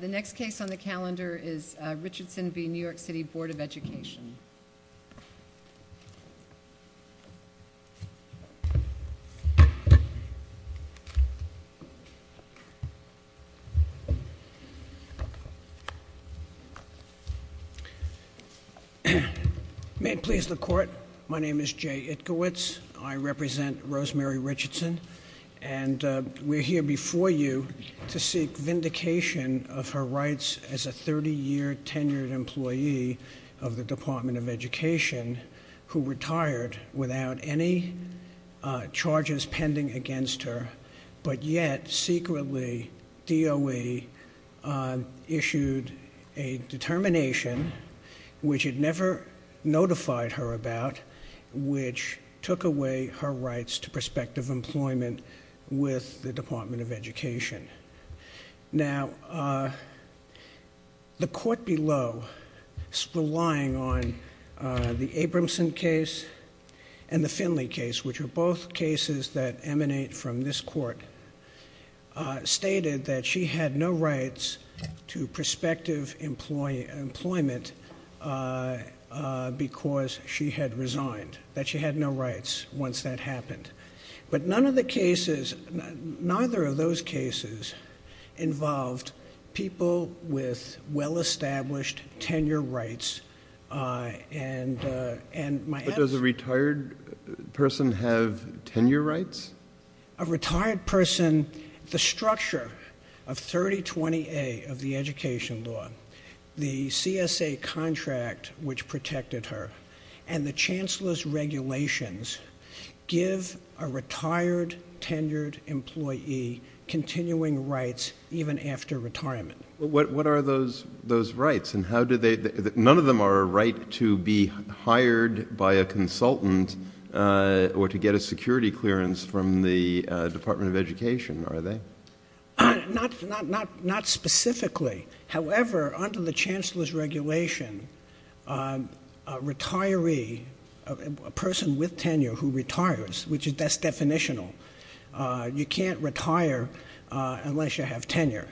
The next case on the calendar is Richardson v. New York City Board of Education. May it please the court, my name is Jay Itkowitz, I represent Rosemary Richardson, and we're here before you to seek vindication of her rights as a 30-year tenured employee of the Department of Education who retired without any charges pending against her, but yet secretly DOE issued a determination, which it never notified her about, which took away her rights to prospective employment with the Department of Education. The court below, relying on the Abramson case and the Finley case, which are both cases that emanate from this court, stated that she had no rights to prospective employment because she had resigned, that she had no rights once that happened. But none of the cases, neither of those cases, involved people with well-established tenure rights, and my answer- But does a retired person have tenure rights? A retired person, the structure of 3020A of the education law, the CSA contract which protected her, and the Chancellor's regulations give a retired, tenured employee continuing rights even after retirement. What are those rights? None of them are a right to be hired by a consultant or to get security clearance from the Department of Education, are they? Not specifically. However, under the Chancellor's regulation, a person with tenure who retires, which that's definitional, you can't retire unless you have tenure.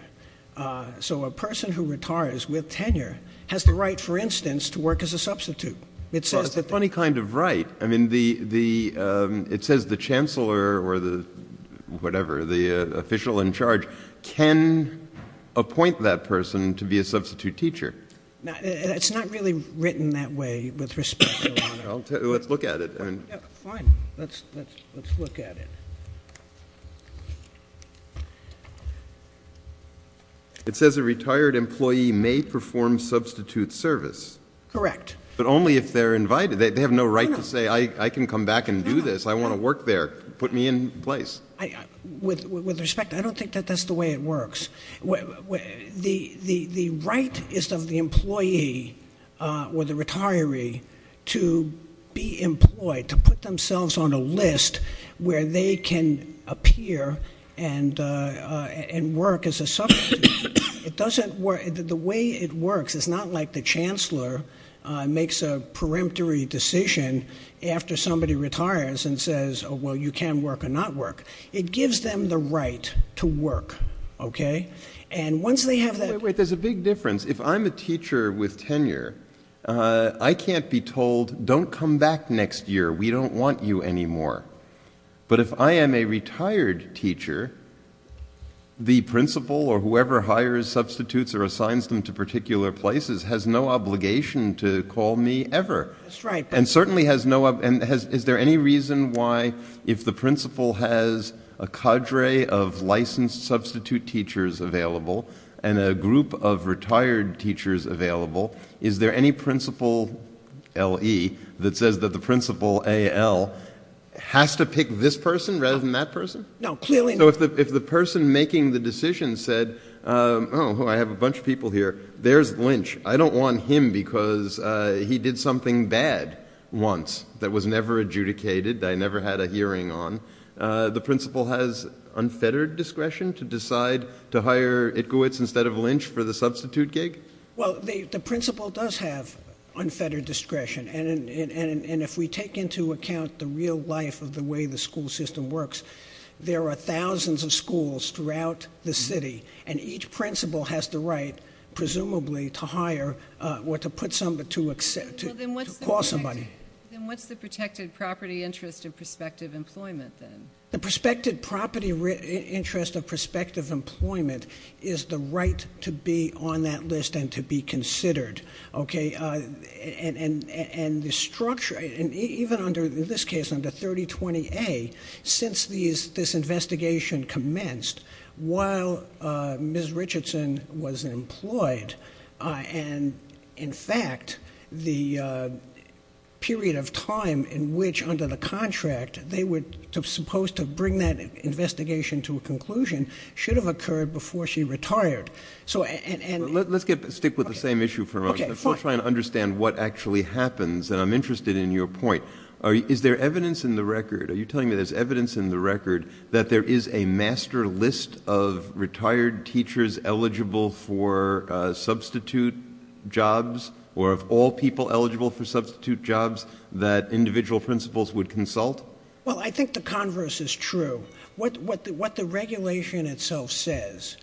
So a person who retires with tenure has the right, for instance, to work as a substitute. It's a funny kind of right. I mean, it says the Chancellor or the, whatever, the official in charge can appoint that person to be a substitute teacher. It's not really written that way, with respect, Your Honor. Let's look at it. Fine. Let's look at it. It says a retired employee may perform substitute service. Correct. But only if they're invited. They have no right to say, I can come back and do this. I want to work there. Put me in place. With respect, I don't think that that's the way it works. The right is of the employee or the retiree to be employed, to put themselves on a list where they can appear and work as a substitute teacher. But the Chancellor makes a peremptory decision after somebody retires and says, oh, well, you can work or not work. It gives them the right to work, okay? And once they have that Wait, wait. There's a big difference. If I'm a teacher with tenure, I can't be told, don't come back next year. We don't want you anymore. But if I am a retired teacher, the principal or whoever hires substitutes or assigns them to particular places has no obligation to call me ever. That's right. And certainly has no, and is there any reason why if the principal has a cadre of licensed substitute teachers available and a group of retired teachers available, is there any principal LE that says that the principal AL has to pick this person rather than that person? No, clearly not. So if the person making the decision said, oh, I have a bunch of people here. There's Lynch. I don't want him because he did something bad once that was never adjudicated. I never had a hearing on. The principal has unfettered discretion to decide to hire Itkowitz instead of Lynch for the substitute gig? Well, the principal does have unfettered discretion. And if we take into account the real life of the way the school system works, there are thousands of schools throughout the city. And each principal has the right, presumably, to hire or to put somebody, to call somebody. Then what's the protected property interest of prospective employment then? The prospective property interest of prospective employment is the right to be on that list and to be considered. And the structure, even under this case, under 3020A, since this investigation commenced, while Ms. Richardson was employed, and in fact, the period of time in which under the contract they were supposed to bring that investigation to a conclusion should have occurred before she retired. Let's stick with the same issue for a moment. Before trying to understand what actually happens, and I'm interested in your point, is there evidence in the record, are you telling me there's evidence in the record that there is a master list of retired teachers eligible for substitute jobs or of all people eligible for substitute jobs that individual principals would consult? Well, I think the converse is true. What the regulation itself says,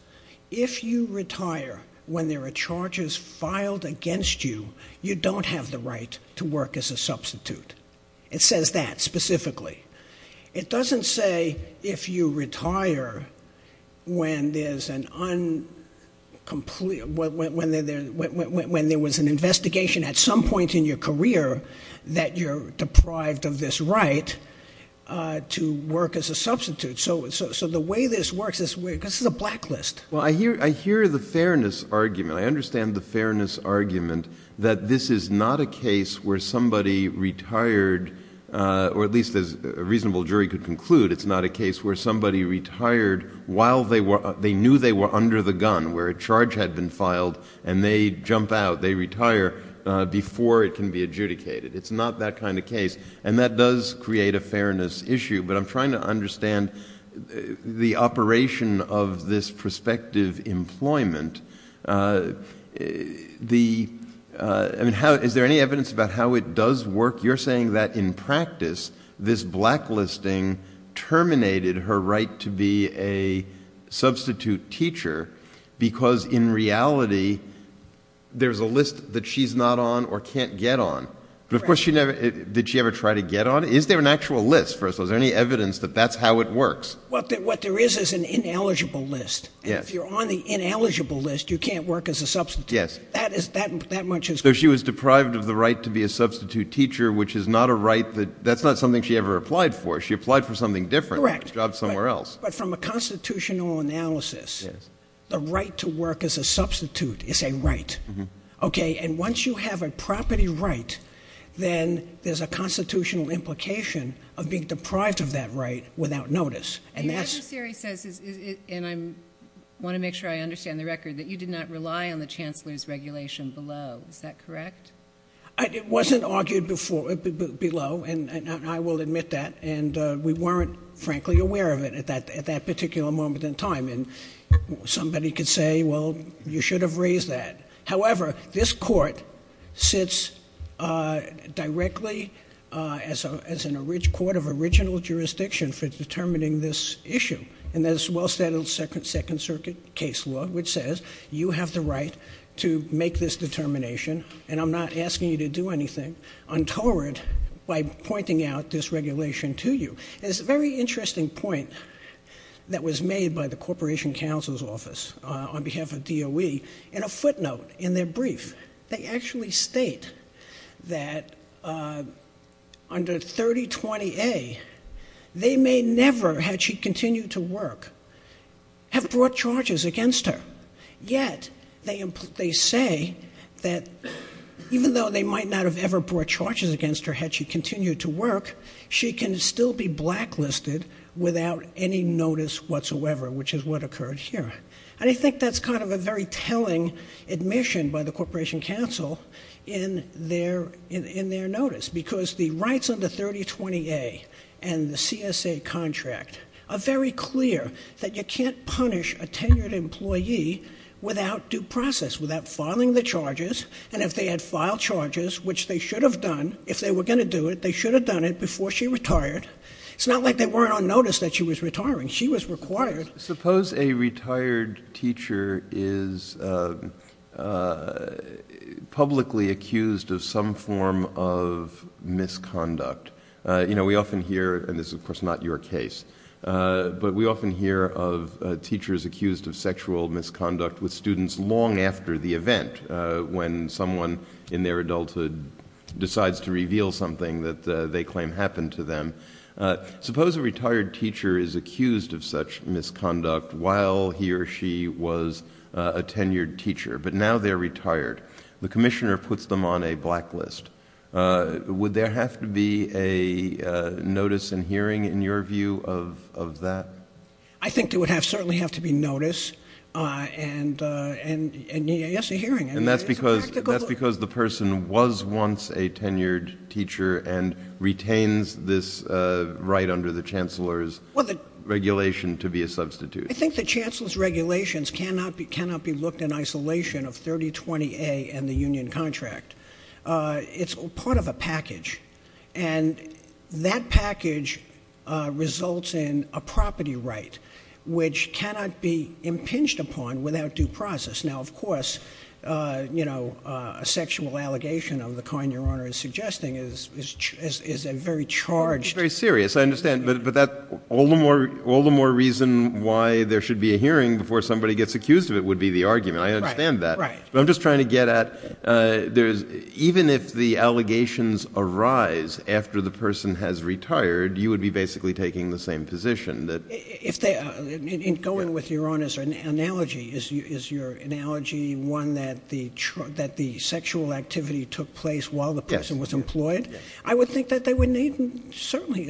if you retire when there are charges filed against you, you don't have the right to work as a substitute. It says that specifically. It doesn't say if you retire when there's an incomplete, when there was an investigation at some point in your career that you're deprived of this right to work as a substitute. So the way this works, this is a blacklist. Well, I hear the fairness argument. I understand the fairness argument that this is not a case where somebody retired, or at least a reasonable jury could conclude it's not a case where somebody retired while they knew they were under the gun, where a charge had been filed and they jump out, they retire before it can be adjudicated. It's not that kind of case, and that does create a fairness issue, but I'm trying to understand the operation of this prospective employment. Is there any evidence about how it does work? You're saying that in practice, this blacklisting terminated her right to be a substitute teacher because in reality, there's a list that she's not on or can't get on. But of course, did she ever try to get on? Is there an actual list? Is there any evidence that that's how it works? What there is is an ineligible list, and if you're on the ineligible list, you can't work as a substitute. That much is clear. So she was deprived of the right to be a substitute teacher, which is not a right that, that's not something she ever applied for. She applied for something different, a job somewhere else. But from a constitutional analysis, the right to work as a substitute is a right. Okay, and once you have a property right, then there's a constitutional implication of being deprived of that right without notice, and that's- The advisory says, and I want to make sure I understand the record, that you did not rely on the chancellor's regulation below. Is that correct? It wasn't argued before, below, and I will admit that, and we weren't, frankly, aware of it at that particular moment in time. And somebody could say, well, you should have raised that. However, this court sits directly as an original court of original jurisdiction for determining this issue. And there's a well-stated Second Circuit case law which says, you have the right to make this determination, and I'm not asking you to do anything untoward by pointing out this regulation to you. There's a very interesting point that was made by the Corporation Counsel's Office on behalf of DOE in a footnote in their brief. They actually state that under 3020A, they can't punish a tenured employee for a violation of the CSA contract. Yet, they say that even though they might not have ever brought charges against her had she continued to work, she can still be blacklisted without any notice whatsoever, which is what occurred here. And I think that's kind of a very telling admission by the Corporation Counsel in their notice, because the rights under 3020A and the CSA contract are very clear that you can't punish a tenured employee without due process, without filing the charges. And if they had filed charges, which they should have done, if they were going to do it, they should have done it before she retired. It's not like they weren't on notice that she was retiring. She was required. Suppose a retired teacher is publicly accused of some form of misconduct. You know, we often hear, and this is of course not your case, but we often hear of teachers accused of sexual misconduct with students long after the event, when someone in their adulthood decides to reveal something that they claim happened to them. Suppose a retired teacher is accused of such misconduct while he or she was a tenured teacher, but now they're retired. The Commissioner puts them on a blacklist. Would there have to be a notice and hearing, in your view, of that? I think there would certainly have to be notice and, yes, a hearing. And that's because the person was once a tenured teacher and retains this right under the Chancellor's regulation to be a substitute. I think the Chancellor's regulations cannot be looked in isolation of 3020A and the Union contract. It's part of a package. And that package results in a property right, which cannot be impinged upon without due process. Now, of course, you know, a sexual allegation of the kind Your Honor is suggesting is a very charged... It's very serious, I understand. But all the more reason why there should be a hearing before somebody gets accused of it would be the argument. I understand that. Right. But I'm just trying to get at, even if the allegations arise after the person has retired, you would be basically taking the same position. If they... And going with Your Honor's analogy, is your analogy one that the sexual activity took place while the person was employed? Yes. I would think that they would need certainly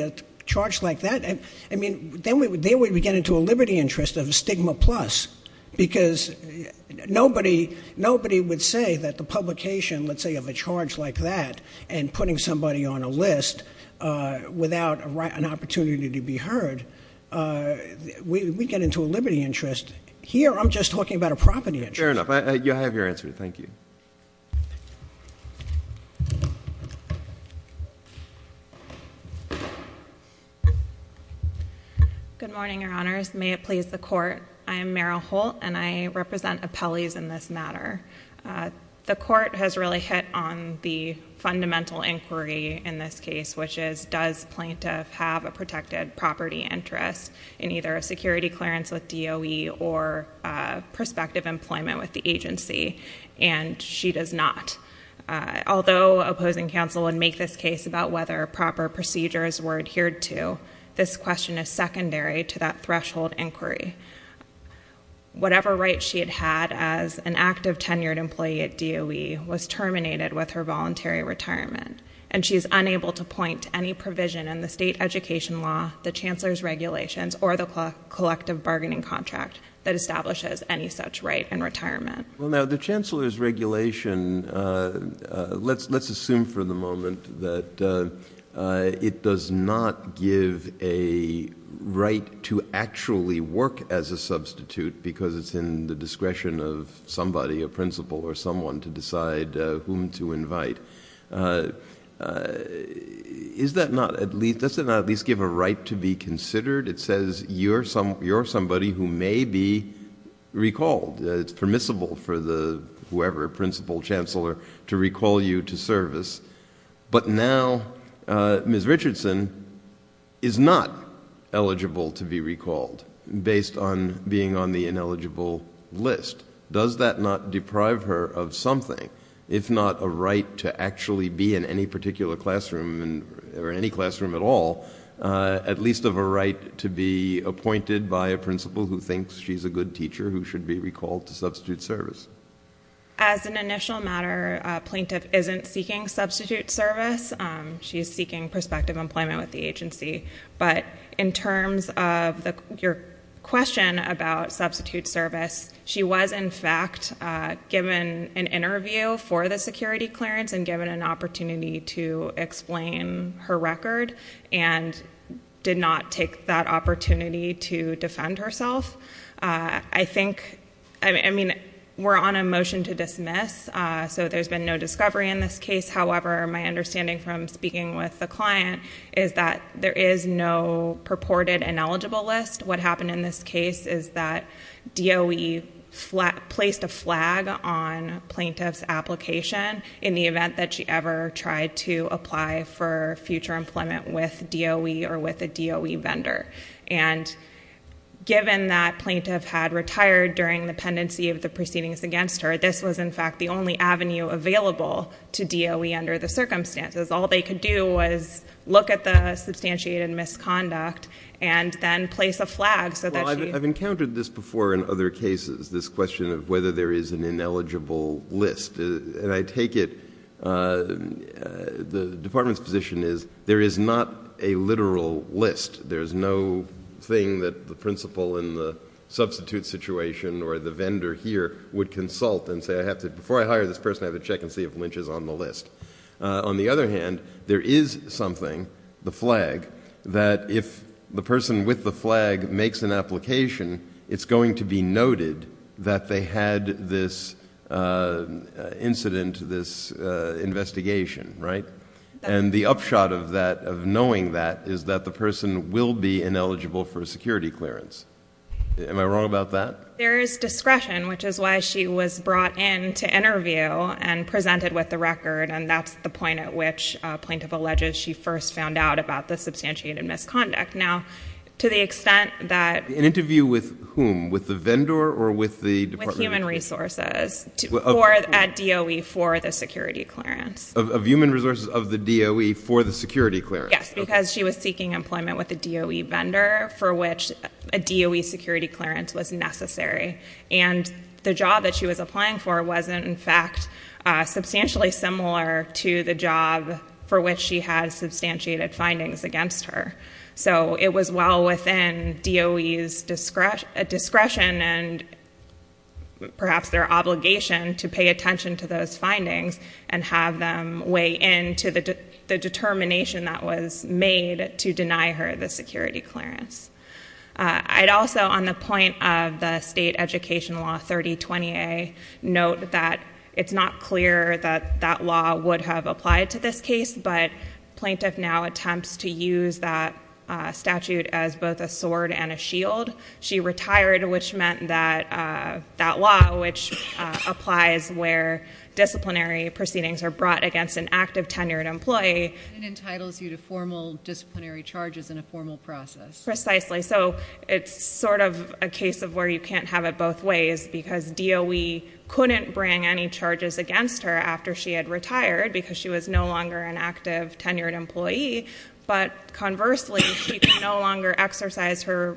a charge like that. I mean, then we get into a liberty interest of a stigma plus. Because nobody would say that the publication, let's say, of a charge like that and putting somebody on a list without an opportunity to be heard, we get into a liberty interest. Here, I'm just talking about a property interest. Fair enough. I have your answer. Thank you. Good morning, Your Honors. May it please the Court, I am Meryl Holt and I represent appellees in this matter. The Court has really hit on the fundamental inquiry in this case, which is does plaintiff have a protected property interest in either a security clearance with or not? Although opposing counsel would make this case about whether proper procedures were adhered to, this question is secondary to that threshold inquiry. Whatever right she had had as an active tenured employee at DOE was terminated with her voluntary retirement. And she is unable to point to any provision in the state education law, the Chancellor's regulations or the collective bargaining contract that establishes any such right in retirement. Well, now, the Chancellor's regulation, let's assume for the moment that it does not give a right to actually work as a substitute because it's in the discretion of somebody, a principal or someone, to decide whom to invite. Does that not at least give a right to be considered? It says you're somebody who may be recalled. It's permissible for whoever, principal, Chancellor, to recall you to service. But now, Ms. Richardson is not eligible to be recalled based on being on the ineligible list. Does that not deprive her of something, if not a right to actually be in any particular classroom or any classroom at all, at least of a right to be appointed by a principal who thinks she's a good teacher who should be recalled to substitute service? As an initial matter, a plaintiff isn't seeking substitute service. She's seeking prospective employment with the agency. But in terms of your question about substitute service, she was, in fact, given an interview for the security clearance and given an opportunity to explain her record and did not take that opportunity to defend herself. I think, I mean, we're on a motion to dismiss, so there's been no discovery in this case. However, my understanding from speaking with the client is that there is no purported ineligible list. What happened in this case is that DOE placed a flag on plaintiff's application in the event that she ever tried to apply for future employment with DOE or with a DOE vendor. And given that plaintiff had retired during the pendency of the proceedings against her, this was, in fact, the only avenue available to DOE under the circumstances. All they could do was look at the substantiated misconduct and then place a flag so that she Well, I've encountered this before in other cases, this question of whether there is an ineligible list. And I take it the department's position is there is not a literal list. There is no thing that the principal in the substitute situation or the vendor here would consult and say, I have to, before I hire this person, I have to check and see if Lynch is on the list. On the other hand, there is something, the flag, that if the person with the flag makes an application, it's going to be noted that they had this incident, this investigation, right? And the upshot of that, of knowing that, is that the person will be ineligible for a security clearance. Am I wrong about that? There is discretion, which is why she was brought in to interview and presented with the record. And that's the point at which a plaintiff alleges she first found out about the substantiated misconduct. Now, to the extent that An interview with whom? With the vendor or with the department? With Human Resources at DOE for the security clearance. Of Human Resources of the DOE for the security clearance? Yes, because she was seeking employment with a DOE vendor for which a DOE security clearance was necessary. And the job that she was applying for wasn't, in fact, substantially similar to the job for which she had substantiated findings against her. So it was well within DOE's discretion and perhaps their obligation to pay attention to those findings and have them weigh in to the determination that was made to deny her the security clearance. I'd also, on the point of the state education law 3020A, note that it's not clear that that law would have applied to this case, but the plaintiff now attempts to use that statute as both a sword and a shield. She retired, which meant that that law, which applies where disciplinary proceedings are brought against an active, tenured employee. It entitles you to formal disciplinary charges in a formal process. Precisely. So it's sort of a case of where you can't have it both ways because DOE couldn't bring any charges against her after she had retired because she was no longer an active, tenured employee. But conversely, she could no longer exercise her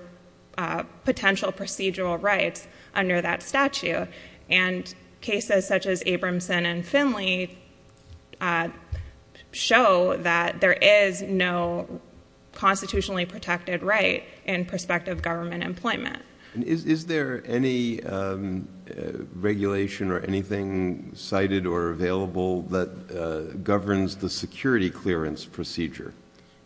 potential procedural rights under that statute. And cases such as Abramson and Finley show that there is no constitutionally protected right in prospective government employment. Is there any regulation or anything cited or available that governs the security clearance procedure?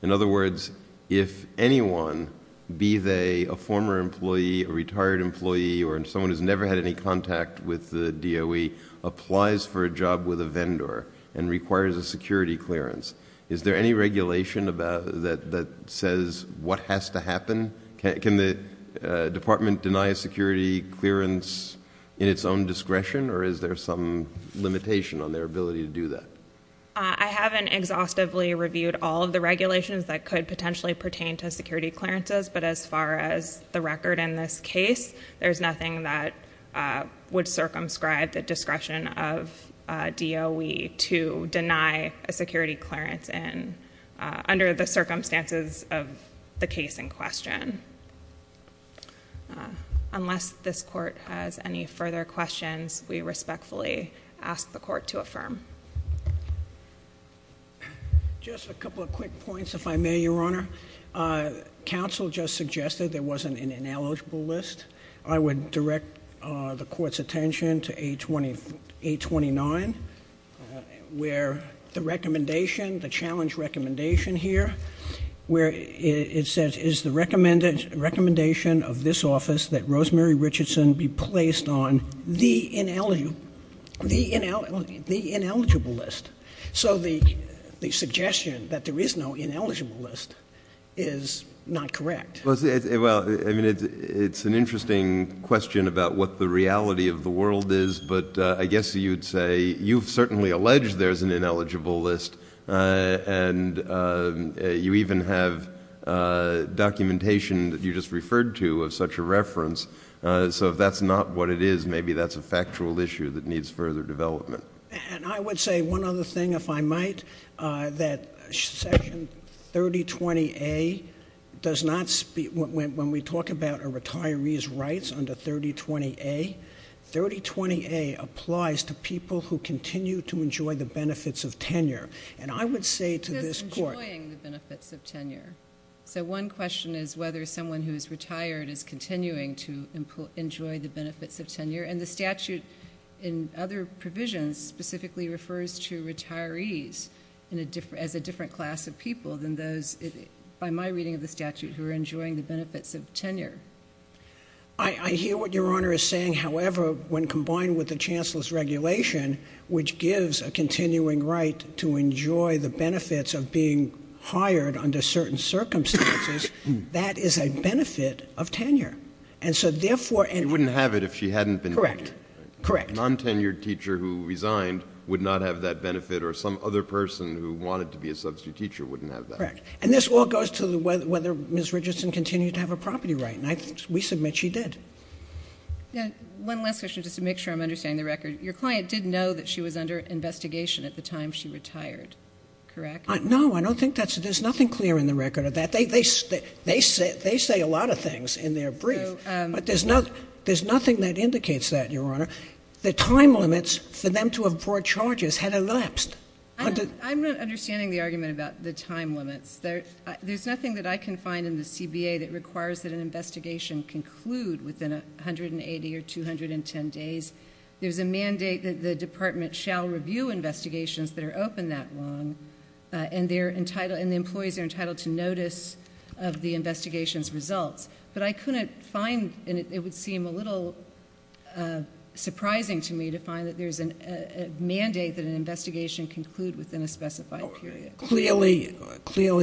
In other words, if anyone, be they a former employee, a retired employee, or someone who's never had any contact with the DOE, applies for a job with a vendor and requires a security clearance, is there any regulation that says what has to happen? Can the department deny a security clearance in its own discretion, or is there some limitation on their ability to do that? I haven't exhaustively reviewed all of the regulations that could potentially pertain to security clearances, but as far as the record in this case, there's nothing that would circumscribe the discretion of DOE to deny a security clearance under the circumstances of the case in question. Unless this court has any further questions, we respectfully ask the court to affirm. Just a couple of quick points, if I may, Your Honor. Counsel just suggested there wasn't an ineligible list. I would direct the court's attention to 829, where the recommendation, the challenge recommendation here, where it says, is the recommendation of this office that Rosemary Richardson be placed on the ineligible list. So the suggestion that there is no ineligible list is not correct. Well, it's an interesting question about what the reality of the world is, but I guess you'd say, you've certainly alleged there's an ineligible list, and you even have documentation that you just referred to of such a reference. So if that's not what it is, maybe that's a factual issue that needs further development. And I would say one other thing, if I might, that Section 3020A does not speak to the fact that when we talk about a retiree's rights under 3020A, 3020A applies to people who continue to enjoy the benefits of tenure. And I would say to this court— It's just enjoying the benefits of tenure. So one question is whether someone who is retired is continuing to enjoy the benefits of tenure. And the statute in other provisions specifically refers to retirees as a different class of people than those, by my reading of the statute, who are enjoying the benefits of tenure. I hear what Your Honor is saying. However, when combined with the Chancellor's regulation, which gives a continuing right to enjoy the benefits of being hired under certain circumstances, that is a benefit of tenure. And so, therefore— She wouldn't have it if she hadn't been— Correct. Correct. A non-tenured teacher who resigned would not have that benefit, or some other person who wanted to be a substitute teacher wouldn't have that. Correct. And this all goes to whether Ms. Richardson continued to have a property right. And we submit she did. Now, one last question, just to make sure I'm understanding the record. Your client did know that she was under investigation at the time she retired, correct? No, I don't think that's—there's nothing clear in the record of that. They say a lot of things in their brief, but there's nothing that indicates that, Your Honor. The time limits for them to have brought charges had elapsed. I'm not understanding the argument about the time limits. There's nothing that I can find in the CBA that requires that an investigation conclude within 180 or 210 days. There's a mandate that the Department shall review investigations that are open that long, and the employees are entitled to notice of the investigation's results. But I couldn't find—and it would seem a little surprising to me to find that there's a mandate that an investigation conclude within a specified period. Clearly,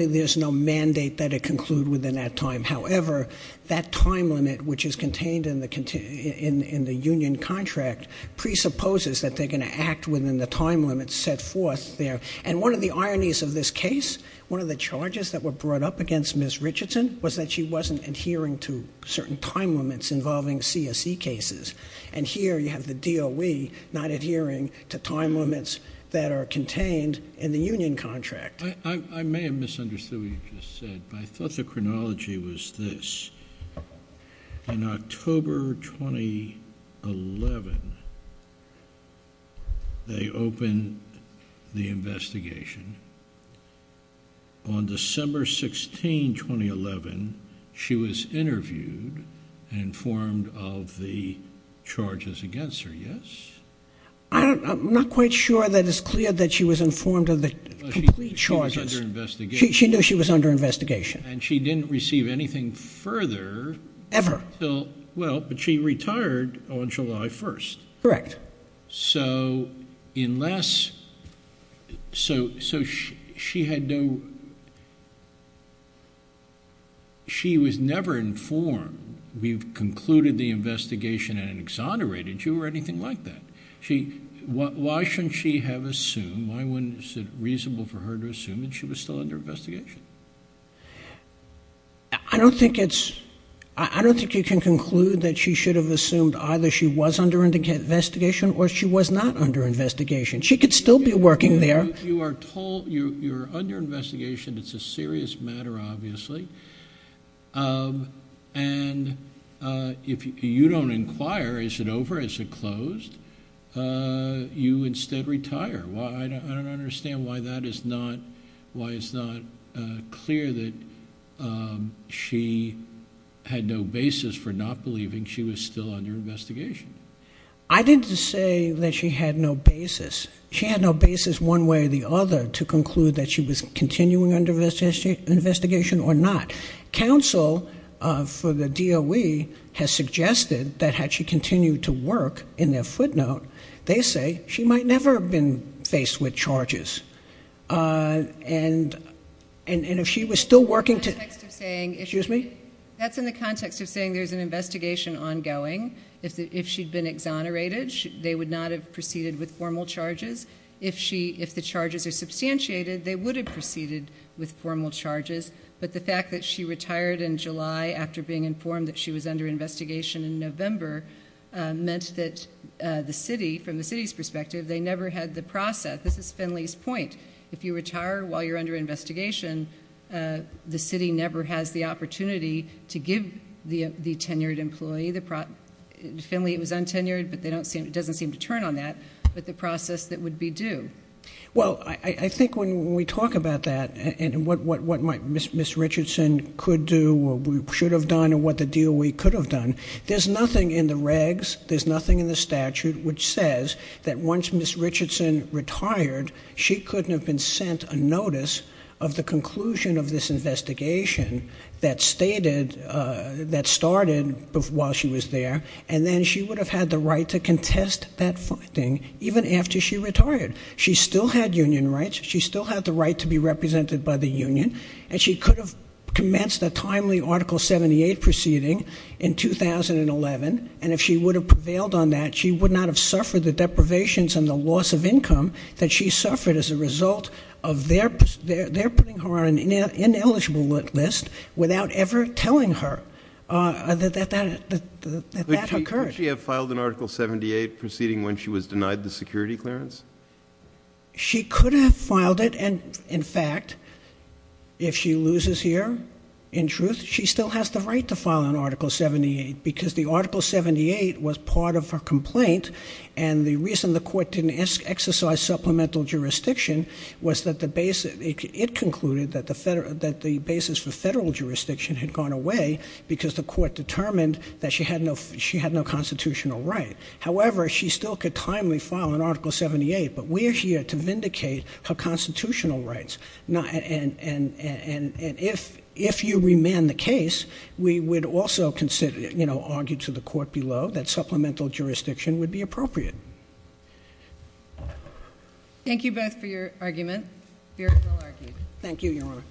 there's no mandate that it conclude within that time. However, that time limit, which is contained in the union contract, presupposes that they're going to act within the time limit set forth there. And one of the ironies of this case, one of the charges that were brought up against Ms. Richardson was that she wasn't adhering to certain time limits involving CSE cases. And here, you have the DOE not adhering to time limits that are contained in the union contract. I may have misunderstood what you just said, but I thought the chronology was this. In October 2011, they opened the investigation. On December 16, 2011, she was interviewed and informed of the charges against her, yes? I'm not quite sure that it's clear that she was informed of the complete charges. She knew she was under investigation. And she didn't receive anything further. Ever. Well, but she retired on July 1st. Correct. So, unless, so she had no, she was never informed, we've concluded the investigation and exonerated you or anything like that. Why shouldn't she have assumed, why wasn't it reasonable for her to assume that she was still under investigation? I don't think it's, I don't think you can conclude that she should have assumed either she was under investigation or she was not under investigation. She could still be working there. You are told you're under investigation, it's a serious matter, obviously. And if you don't inquire, is it over, is it closed, you instead retire. I don't understand why that is not, why is it not clear that she had no basis for not believing she was still under investigation? I didn't say that she had no basis. She had no basis one way or the other to conclude that she was continuing under investigation or not. Counsel for the DOE has suggested that had she continued to work in their footnote, they say she might never have been faced with And if she was still working to, excuse me. That's in the context of saying there's an investigation ongoing. If she'd been exonerated, they would not have proceeded with formal charges. If she, if the charges are substantiated, they would have proceeded with formal charges. But the fact that she retired in July after being informed that she was under investigation in November meant that the city, from the city's perspective, they never had the process. This is Finley's point. If you retire while you're under investigation, the city never has the opportunity to give the tenured employee the, Finley was untenured, but they don't seem, it doesn't seem to turn on that, but the process that would be due. Well, I think when we talk about that and what Ms. Richardson could do or should have done or what the DOE could have done, there's nothing in the regs, there's nothing in the process of the conclusion of this investigation that stated, that started while she was there. And then she would have had the right to contest that finding even after she retired. She still had union rights. She still had the right to be represented by the union. And she could have commenced a timely Article 78 proceeding in 2011. And if she would have prevailed on that, she would not have suffered the deprivations and the loss of income that she suffered as a result of their, their, their putting her on an ineligible list without ever telling her, uh, that, that, that, that, that, that that occurred. Could she have filed an Article 78 proceeding when she was denied the security clearance? She could have filed it. And in fact, if she loses here, in truth, she still has the right to file an Article 78 because the Article 78 was part of her complaint. And the reason the court didn't ask, exercise supplemental jurisdiction was that the base, it concluded that the federal, that the basis for federal jurisdiction had gone away because the court determined that she had no, she had no constitutional right. However, she still could timely file an Article 78, but we're here to vindicate her constitutional rights. And, and, and, and, and if, if you remand the case, we would also consider, you know, argue to the court below that supplemental jurisdiction would be appropriate. Thank you both for your argument, your full argument. Thank you, Your Honor.